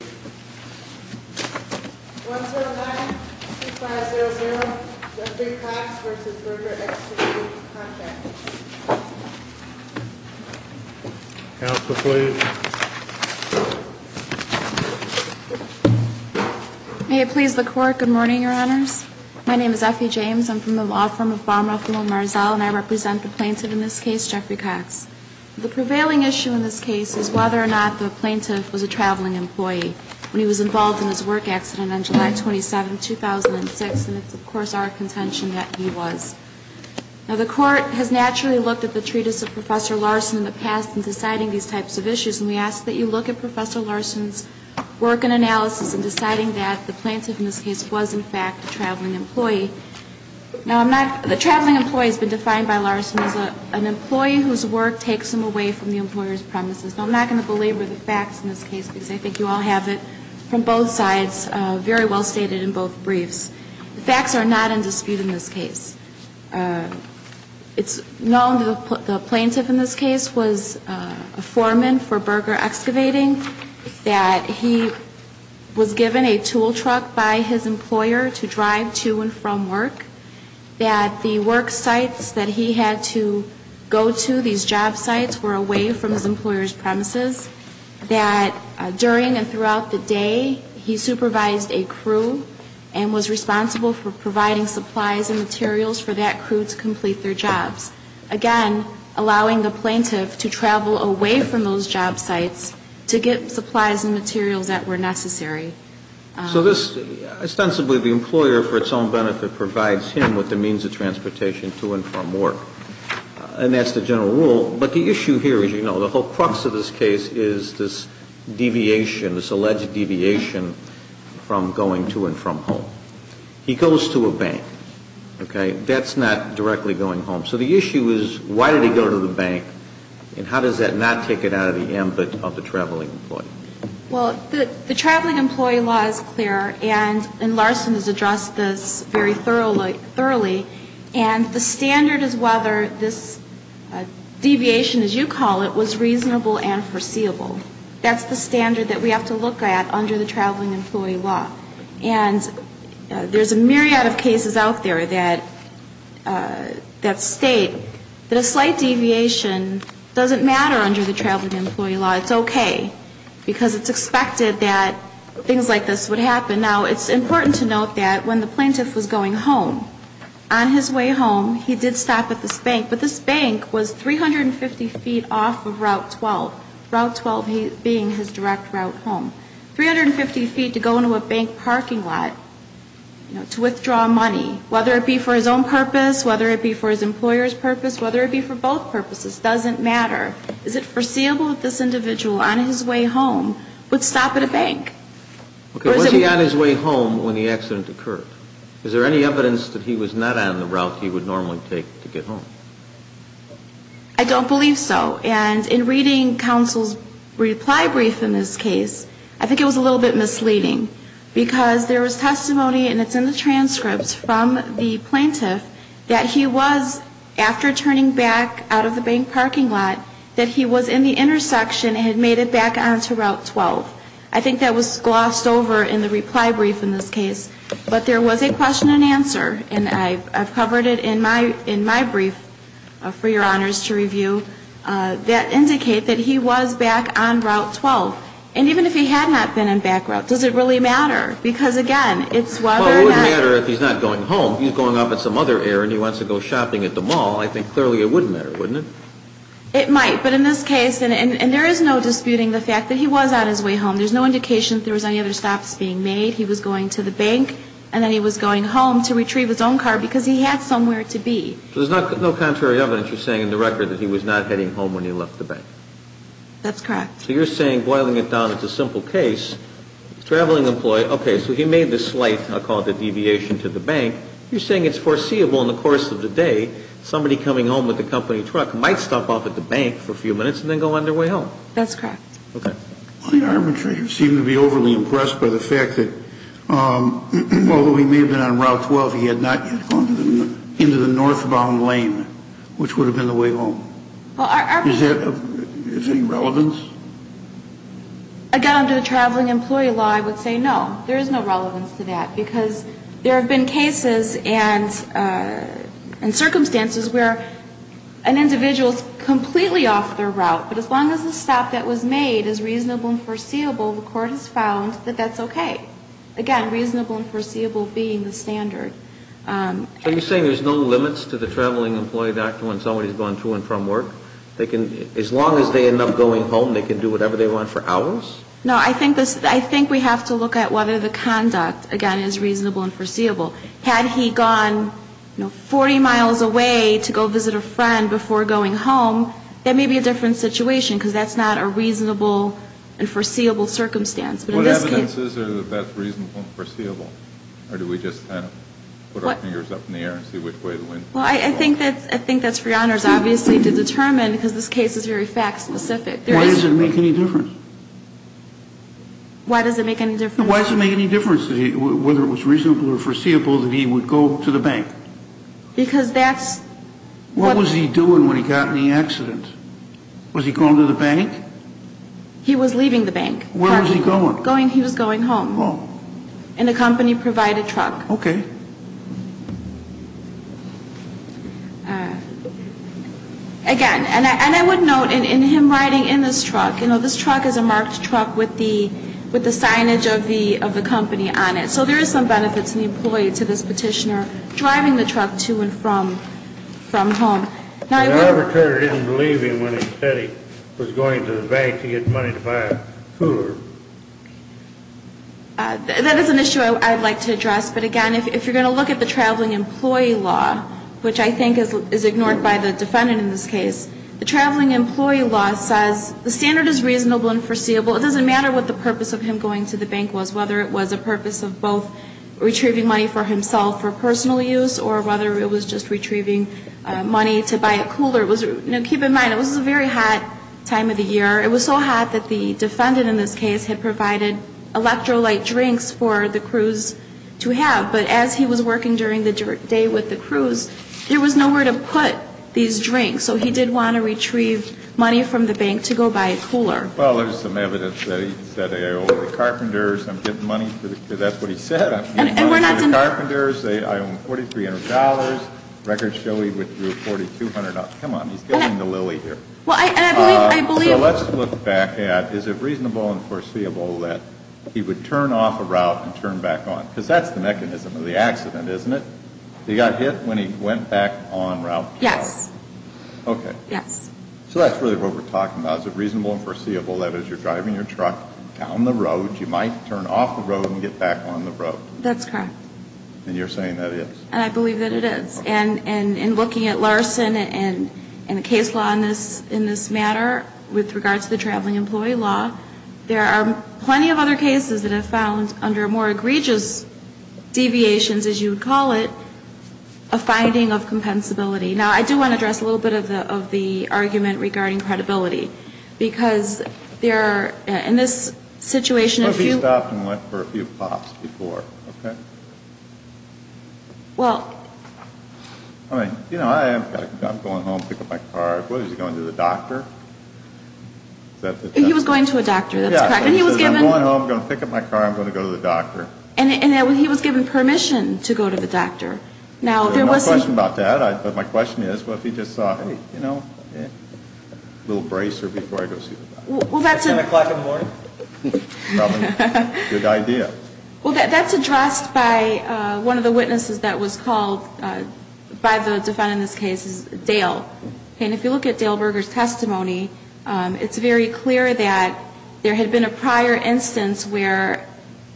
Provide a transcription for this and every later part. May it please the Court, good morning, Your Honors. My name is Effie James. I'm from the law firm of Baumroff & Lomarzell, and I represent the plaintiff in this case, Jeffrey Cox. The was involved in his work accident on July 27, 2006, and it's, of course, our contention that he was. Now, the Court has naturally looked at the treatise of Professor Larson in the past in deciding these types of issues, and we ask that you look at Professor Larson's work and analysis in deciding that the plaintiff in this case was, in fact, a traveling employee. Now, the traveling employee has been defined by Larson as an employee whose work takes him away from the employer's premises. Now, I'm not going to belabor the facts in this case, because I think you all have it from both sides, very well stated in both briefs. The facts are not in dispute in this case. It's known that the plaintiff in this case was a foreman for Berger Excavating, that he was given a tool truck by his employer to drive to and from work, that the work sites that he had to go to, these job sites, were away from his employer's premises, that during and throughout the day, he supervised a crew and was responsible for providing supplies and materials for that crew to complete their jobs, again, allowing the plaintiff to travel away from those job sites to get supplies and materials that were necessary. So this, ostensibly the employer, for its own benefit, provides him with the means of as you know, the whole crux of this case is this deviation, this alleged deviation from going to and from home. He goes to a bank, okay? That's not directly going home. So the issue is, why did he go to the bank, and how does that not take it out of the ambit of the traveling employee? Well, the traveling employee law is clear, and Larson has addressed this very thoroughly. And the standard is whether this deviation, as you call it, was reasonable and foreseeable. That's the standard that we have to look at under the traveling employee law. And there's a myriad of cases out there that state that a slight deviation doesn't matter under the traveling employee law. It's okay. Because it's expected that things like this would happen. Now, it's important to note that when the plaintiff was going home, on his way home, he did stop at this bank. But this bank was 350 feet off of Route 12, Route 12 being his direct route home. 350 feet to go into a bank parking lot, you know, to withdraw money, whether it be for his own purpose, whether it be for his employer's purpose, whether it be for both purposes, doesn't matter. Is it foreseeable that this individual, on his way home, would stop at a bank? Okay. Was he on his way home when the accident occurred? Is there any evidence that he was not on the route he would normally take to get home? I don't believe so. And in reading counsel's reply brief in this case, I think it was a little bit misleading. Because there was testimony, and it's in the transcripts from the plaintiff, that he was, after turning back out of the bank parking lot, that he was in the intersection and had made it back on to Route 12. I think that was glossed over in the reply brief in this case. But there was a question and answer, and I've covered it in my brief for your honors to review, that indicate that he was back on Route 12. And even if he had not been on back route, does it really matter? Because, again, it's whether or not Well, it would matter if he's not going home. If he's going off at some other area and he wants to go shopping at the mall, I think clearly it wouldn't matter, wouldn't it? It might. But in this case, and there is no disputing the fact that he was on his way home. There's no indication that there was any other stops being made. He was going to the bank, and then he was going home to retrieve his own car, because he had somewhere to be. So there's no contrary evidence, you're saying, in the record that he was not heading home when he left the bank? That's correct. So you're saying, boiling it down, it's a simple case. A traveling employee, okay, so he made the slight, I'll call it the deviation, to the bank. You're saying it's foreseeable in the course of the day, somebody coming home with a company truck might stop off at the bank for a few minutes and then go on their way home? That's correct. Okay. The arbitrator seemed to be overly impressed by the fact that, although he may have been on Route 12, he had not yet gone into the northbound lane, which would have been the way home. Well, our Is there any relevance? Again, under the traveling employee law, I would say no. There is no relevance to that. Because there have been cases and circumstances where an individual is completely off their route, but as long as the stop that was made is reasonable and foreseeable, the Court has found that that's okay. Again, reasonable and foreseeable being the standard. So you're saying there's no limits to the traveling employee back to when somebody's gone to and from work? As long as they end up going home, they can do whatever they want for hours? No. I think we have to look at whether the conduct, again, is reasonable and foreseeable. Had he gone, you know, 40 miles away to go visit a friend before going home, that may be a different situation, because that's not a reasonable and foreseeable circumstance. But in this case What evidence is there that that's reasonable and foreseeable? Or do we just kind of put our fingers up in the air and see which way the wind blows? Well, I think that's for your honors, obviously, to determine, because this case is very fact specific. Why does it make any difference? Why does it make any difference? Why does it make any difference whether it was reasonable or foreseeable that he would go to the bank? Because that's What was he doing when he got in the accident? Was he going to the bank? He was leaving the bank. Where was he going? He was going home. Home. In a company-provided truck. Okay. Again, and I would note, in him riding in this truck, you know, this truck is a marked truck with the signage of the company on it. So there is some benefit to the employee, to this petitioner, driving the truck to and from home. But the arbitrator didn't believe him when he said he was going to the bank to get money to buy a cooler. That is an issue I'd like to address. But again, if you're going to look at the Traveling Employee Law, which I think is ignored by the defendant in this case, the Traveling Employee Law says the standard is reasonable and foreseeable. It doesn't matter what the purpose of him going to the bank was, whether it was a purpose of both retrieving money for himself for personal use or whether it was just retrieving money to buy a cooler. Keep in mind, it was a very hot time of the year. It was so hot that the defendant in this case had provided electrolyte drinks for the crews to have. But as he was working during the day with the crews, there was nowhere to put these drinks. So he did want to retrieve money from the bank to go buy a cooler. Well, there's some evidence that he said, I owe the carpenters. I'm getting money for the, that's what he said. And we're not going to I'm getting money for the carpenters. I owe them $4,300. Records show he withdrew $4,200. Come on, he's killing the lily here. Well, and I believe So let's look back at, is it reasonable and foreseeable that he would turn off a route and turn back on? Because that's the mechanism of the accident, isn't it? He got hit when he went back on route? Yes. Okay. Yes. So that's really what we're talking about. Is it reasonable and foreseeable that as you're driving your truck down the road, you might turn off the road and get back on the road? That's correct. And you're saying that is? And I believe that it is. And in looking at Larson and the case law in this matter with regard to the traveling employee law, there are plenty of other cases that have found under more egregious deviations, as you would call it, a finding of compensability. Now, I do want to address a little bit of the argument regarding credibility. Because there are, in this situation, if you But he stopped and went for a few pops before, okay? Well, I mean, you know, I'm going home to pick up my car. What, is he going to the doctor? He was going to a doctor. That's correct. And he was given I'm going home. I'm going to pick up my car. I'm going to go to the doctor. And he was given permission to go to the doctor. Now, there was There's no question about that. But my question is, what if he just saw, hey, you know, a little bracer before I go see the doctor? Well, that's a At 10 o'clock in the morning? Probably. Good idea. Well, that's addressed by one of the witnesses that was called by the defendant in this case, Dale. And if you look at Dale Berger's testimony, it's very clear that there had been a prior instance where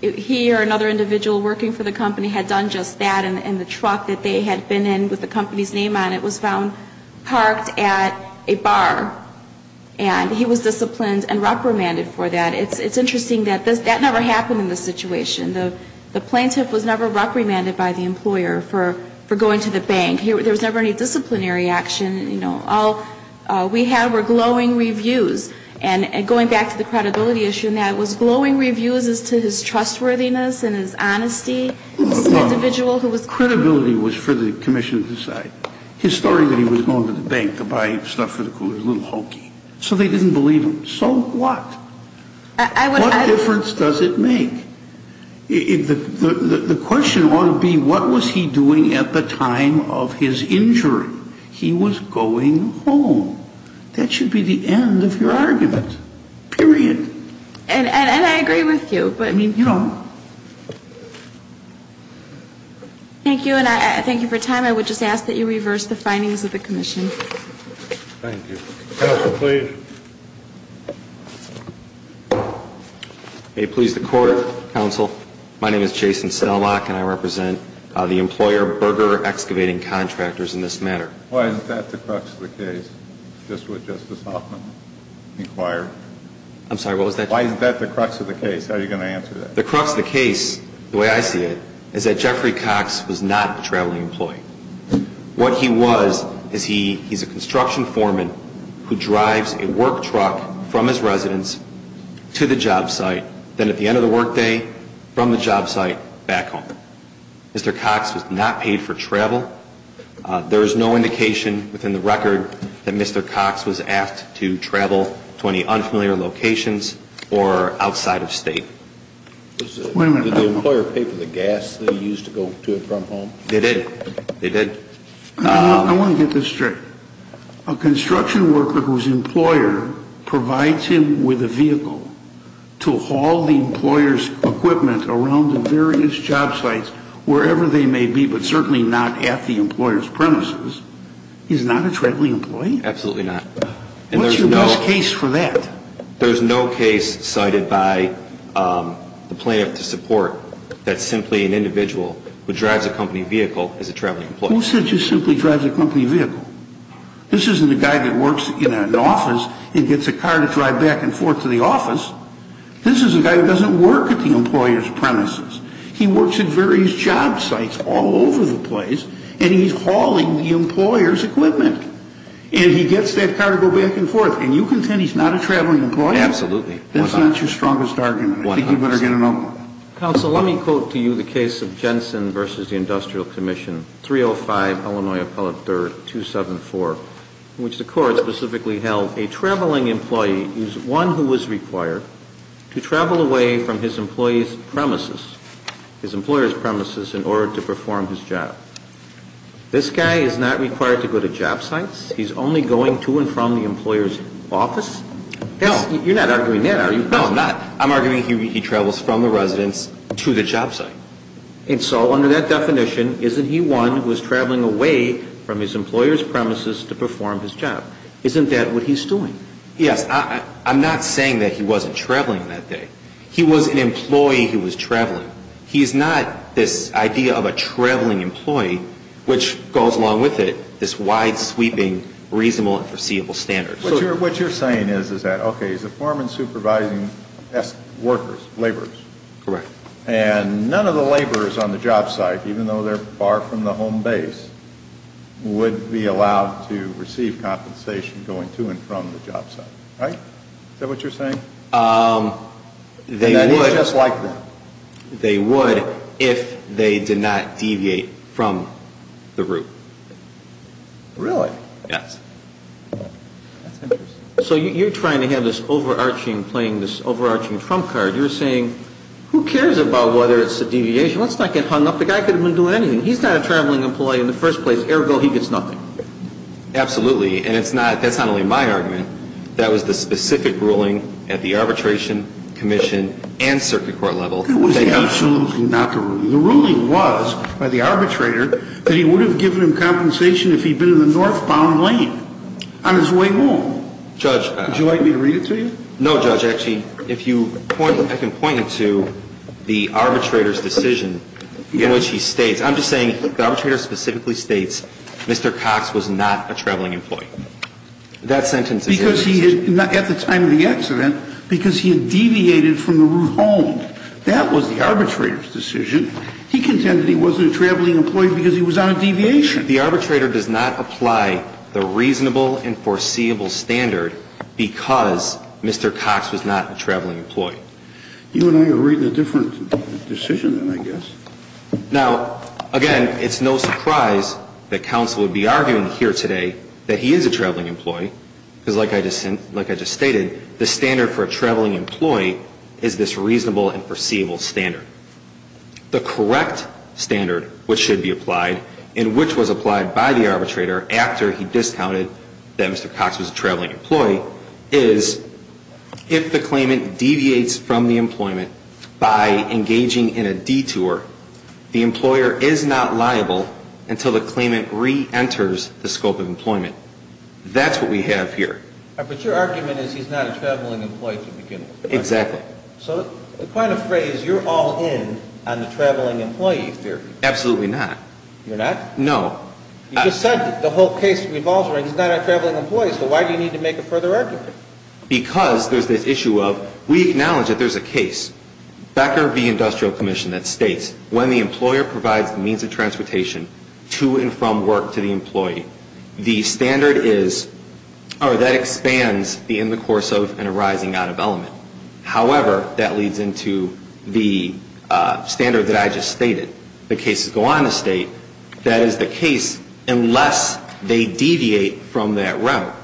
he or another individual working for the company had done just that, and the truck that they had been in with the company's name on it was found parked at a bar. And he was disciplined and reprimanded for that. It's interesting that that never happened in this situation. The plaintiff was never reprimanded by the employer for going to the bank. There was never any disciplinary action. You know, all we had were glowing reviews. And going back to the credibility issue now, it was glowing reviews as to his trustworthiness and his honesty as an individual who was Credibility was for the commission to decide. His story that he was going to the bank to buy stuff for the crew was a little hokey. So they didn't believe him. So what? I would What difference does it make? The question ought to be, what was he doing at the time of his injury? He was going home. That should be the end of your argument. Period. And I agree with you, but I mean, you know Thank you. And I thank you for your time. I would just ask that you reverse the findings of the commission. Thank you. Counsel, please. May it please the Court, Counsel. My name is Jason Snellock, and I represent the employer Berger Excavating Contractors in this matter. Why is that the crux of the case? Just what Justice Hoffman required. I'm sorry, what was that? Why is that the crux of the case? How are you going to answer that? The crux of the case, the way I see it, is that Jeffrey Cox was not a traveling employee. What he was, is he's a construction foreman who drives a work truck from his residence to the job site, then at the end of the work day, from the job site, back home. Mr. Cox was not paid for travel. There is no indication within the record that Mr. Cox was asked to travel to any unfamiliar locations or outside of state. Wait a minute. Did the employer pay for the gas that he used to go to and from home? They did. They did. I want to get this straight. A construction worker whose employer provides him with a vehicle to haul the employer's equipment around the various job sites, wherever they may be, but certainly not at the employer's premises, is not a traveling employee? Absolutely not. What's your best case for that? There's no case cited by the plaintiff to support that simply an individual who drives a company vehicle is a traveling employee. Who said he simply drives a company vehicle? This isn't a guy that works in an office and gets a car to drive back and forth to the office. This is a guy that doesn't work at the employer's premises. He works at various job sites all over the place, and he's hauling the employer's equipment. And he gets that car to go back and forth. And you contend he's not a traveling employee? Absolutely. That's not your strongest argument. One hundred percent. I think you'd better get another one. Counsel, let me quote to you the case of Jensen v. The Industrial Commission, 305 Illinois Appellate 3rd, 274, in which the court specifically held a traveling employee is one who was required to travel away from his employer's premises in order to perform his job. This guy is not required to go to job sites. He's only going to and from the employer's office? No. You're not arguing that, are you? No, I'm not. I'm arguing he travels from the residence to the job site. And so under that definition, isn't he one who is traveling away from his employer's premises to perform his job? Isn't that what he's doing? Yes. I'm not saying that he wasn't traveling that day. He was an employee who was traveling. He's not this idea of a traveling employee, which goes along with it, this wide-sweeping, reasonable and foreseeable standard. What you're saying is that, okay, he's a foreman supervising workers, laborers. Correct. And none of the laborers on the job site, even though they're far from the home base, would be allowed to receive compensation going to and from the job site, right? Is that what you're saying? They would. And that is just like them? They would if they did not deviate from the route. Really? Yes. That's interesting. So you're trying to have this overarching, playing this overarching trump card. You're saying, who cares about whether it's a deviation? Let's not get hung up. The guy could have been doing anything. He's not a traveling employee in the first place. Ergo, he gets nothing. Absolutely. And it's not, that's not only my argument. That was the specific ruling at the arbitration commission and circuit court level. It was absolutely not the ruling. The ruling was by the arbitrator that he would have given him compensation if he'd been in the northbound lane on his way home. Judge. Would you like me to read it to you? No, Judge. Actually, if you point, I can point it to the arbitrator's decision in which he states, I'm just saying the arbitrator specifically states Mr. Cox was not a traveling employee. That sentence is his decision. Because he had, at the time of the accident, because he had deviated from the route home. That was the arbitrator's decision. He contended he wasn't a traveling employee because he was on a deviation. The arbitrator does not apply the reasonable and foreseeable standard because Mr. Cox was not a traveling employee. You and I are reading a different decision, then, I guess. Now, again, it's no surprise that counsel would be arguing here today that he is a traveling employee, because like I just said, like I just stated, the standard for a traveling employee is this reasonable and foreseeable standard. The correct standard which should be applied and which was applied by the arbitrator after he discounted that Mr. Cox was a traveling employee is if the claimant deviates from the employment by engaging in a detour, the employer is not liable until the claimant reenters the scope of employment. That's what we have here. But your argument is he's not a traveling employee to begin with. Exactly. So quite a phrase. You're all in on the traveling employee theory. Absolutely not. You're not? No. You just said the whole case revolves around he's not a traveling employee, so why do you need to make a further argument? Because there's this issue of we acknowledge that there's a case, Becker v. Industrial Commission, that states when the employer provides the means of transportation to and from work to the employee, the standard is or that expands in the course of an arising out of element. However, that leads into the standard that I just stated. The cases go on to state that is the case unless they deviate from that route.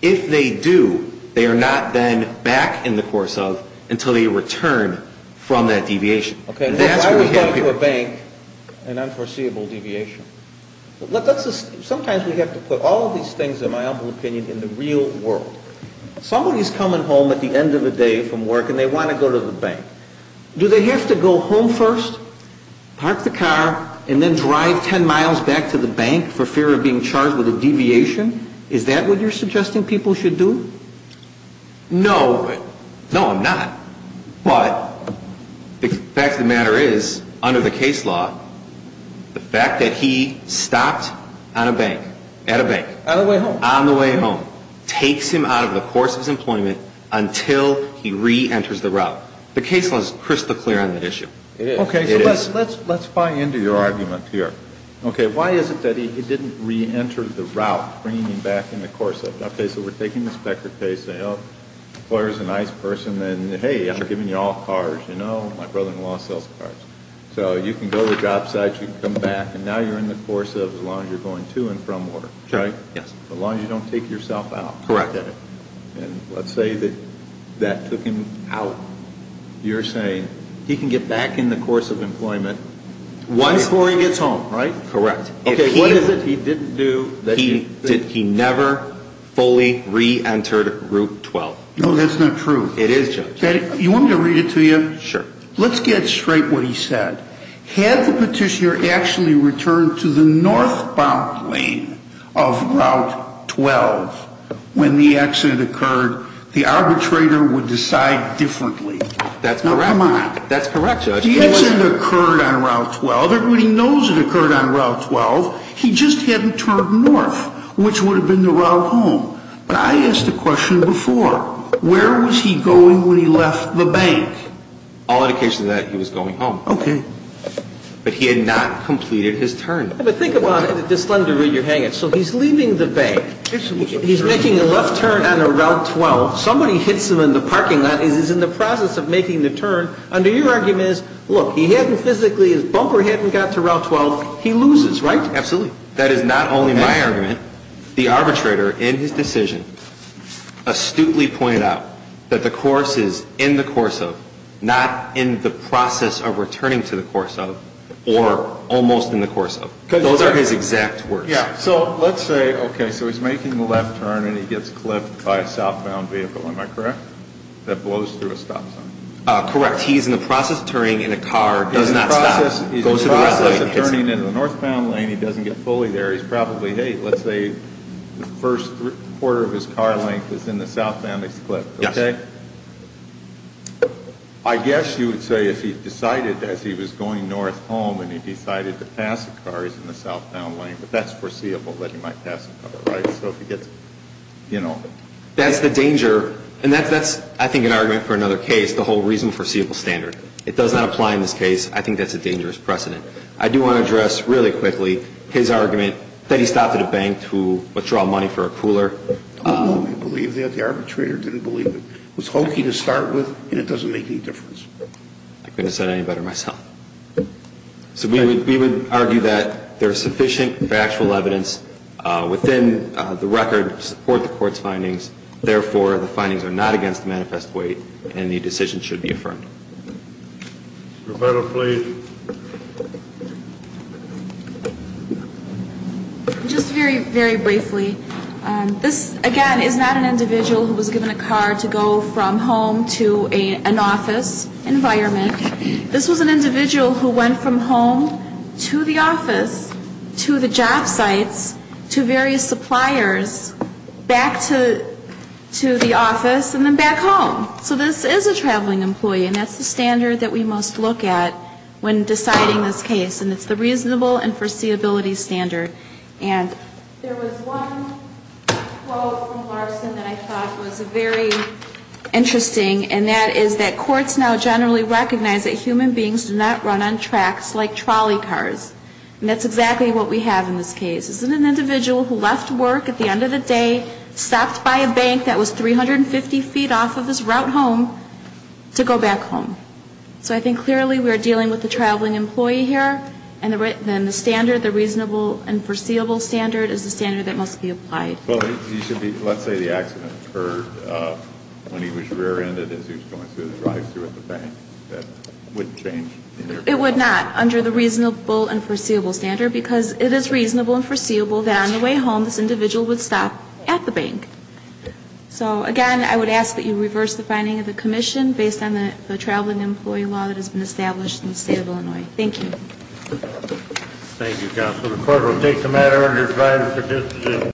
If they do, they are not then back in the course of until they return from that deviation. That's what we have here. I would go to a bank, an unforeseeable deviation. Sometimes we have to put all of these things, in my humble opinion, in the real world. Somebody's coming home at the end of the day from work and they want to go to the bank. Do they have to go home first, park the car, and then drive 10 miles back to the bank for fear of being charged with a deviation? Is that what you're suggesting people should do? No. No, I'm not. But the fact of the matter is, under the case law, the fact that he stopped on a bank, at a bank. On the way home. On the way home. Takes him out of the course of his employment until he reenters the route. The case law is crystal clear on that issue. It is. It is. Okay. So let's buy into your argument here. Okay. Why is it that he didn't reenter the route, bringing him back in the course of? Okay. So we're taking this Becker case. Employer's a nice person. And hey, I'm giving you all cards. You know, my brother-in-law sells cards. So you can go to the job site. You can come back. And now you're in the course of as long as you're going to and from work. Right? Yes. As long as you don't take yourself out. Correct. And let's say that that took him out. You're saying he can get back in the course of employment. Once before he gets home, right? Correct. Okay. What is it he didn't do? He never fully reentered route 12. No, that's not true. It is, Judge. You want me to read it to you? Sure. Let's get straight what he said. Had the petitioner actually returned to the northbound lane of route 12 when the accident occurred, the arbitrator would decide differently. That's correct. Now, come on. That's correct, Judge. The accident occurred on route 12. Everybody knows it occurred on route 12. He just hadn't turned north, which would have been the route home. But I asked the question before. Where was he going when he left the bank? All indications that he was going home. Okay. But he had not completed his turn. But think about it at this slender where you're hanging. So he's leaving the bank. He's making a left turn on route 12. Somebody hits him in the parking lot. He's in the process of making the turn. Under your argument is, look, he hadn't physically, his bumper hadn't got to route 12. He loses, right? Absolutely. That is not only my argument. The arbitrator in his decision astutely pointed out that the course is in the course of, not in the process of returning to the course of, or almost in the course of. Those are his exact words. Yeah. So let's say, okay, so he's making the left turn and he gets clipped by a southbound vehicle. Am I correct? That blows through a stop sign. Correct. He's in the process of turning and a car does not stop. He's in the process of turning into the northbound lane. He doesn't get fully there. He's probably, hey, let's say the first quarter of his car length is in the southbound. He's clipped, okay? Yes. I guess you would say if he decided as he was going north home and he decided to pass the car, he's in the southbound lane. But that's foreseeable that he might pass the car, right? So if he gets, you know. That's the danger. And that's, I think, an argument for another case, the whole reason for a seeable standard. It does not apply in this case. I think that's a dangerous precedent. I do want to address really quickly his argument that he stopped at a bank to withdraw money for a cooler. I don't believe that. The arbitrator didn't believe it. It was hokey to start with and it doesn't make any difference. I couldn't have said it any better myself. So we would argue that there is sufficient factual evidence within the record to support the court's findings. Therefore, the findings are not against the manifest weight and the decision should be affirmed. Roberta, please. Just very, very briefly. This, again, is not an individual who was given a car to go from home to an office environment. This was an individual who went from home to the office, to the job sites, to various suppliers, back to the office, and then back home. So this is a traveling employee and that's the standard that we most look at when deciding this case. And it's the reasonable and foreseeability standard. And there was one quote from Larson that I thought was very interesting and that is that courts now generally recognize that human beings do not run on tracks like trolley cars. And that's exactly what we have in this case. This is an individual who left work at the end of the day, stopped by a bank that was 350 feet off of his route home to go back home. So I think clearly we are dealing with a traveling employee here. And then the standard, the reasonable and foreseeable standard is the standard that must be applied. Well, you should be, let's say the accident occurred when he was rear-ended as he was going through the drive-through at the bank. That wouldn't change? It would not under the reasonable and foreseeable standard because it is reasonable and foreseeable that on the way home this individual would stop at the bank. So, again, I would ask that you reverse the finding of the commission based on the traveling employee law that has been established in the state of Illinois. Thank you. Thank you, Counsel. The court will take the matter under Friday's decision.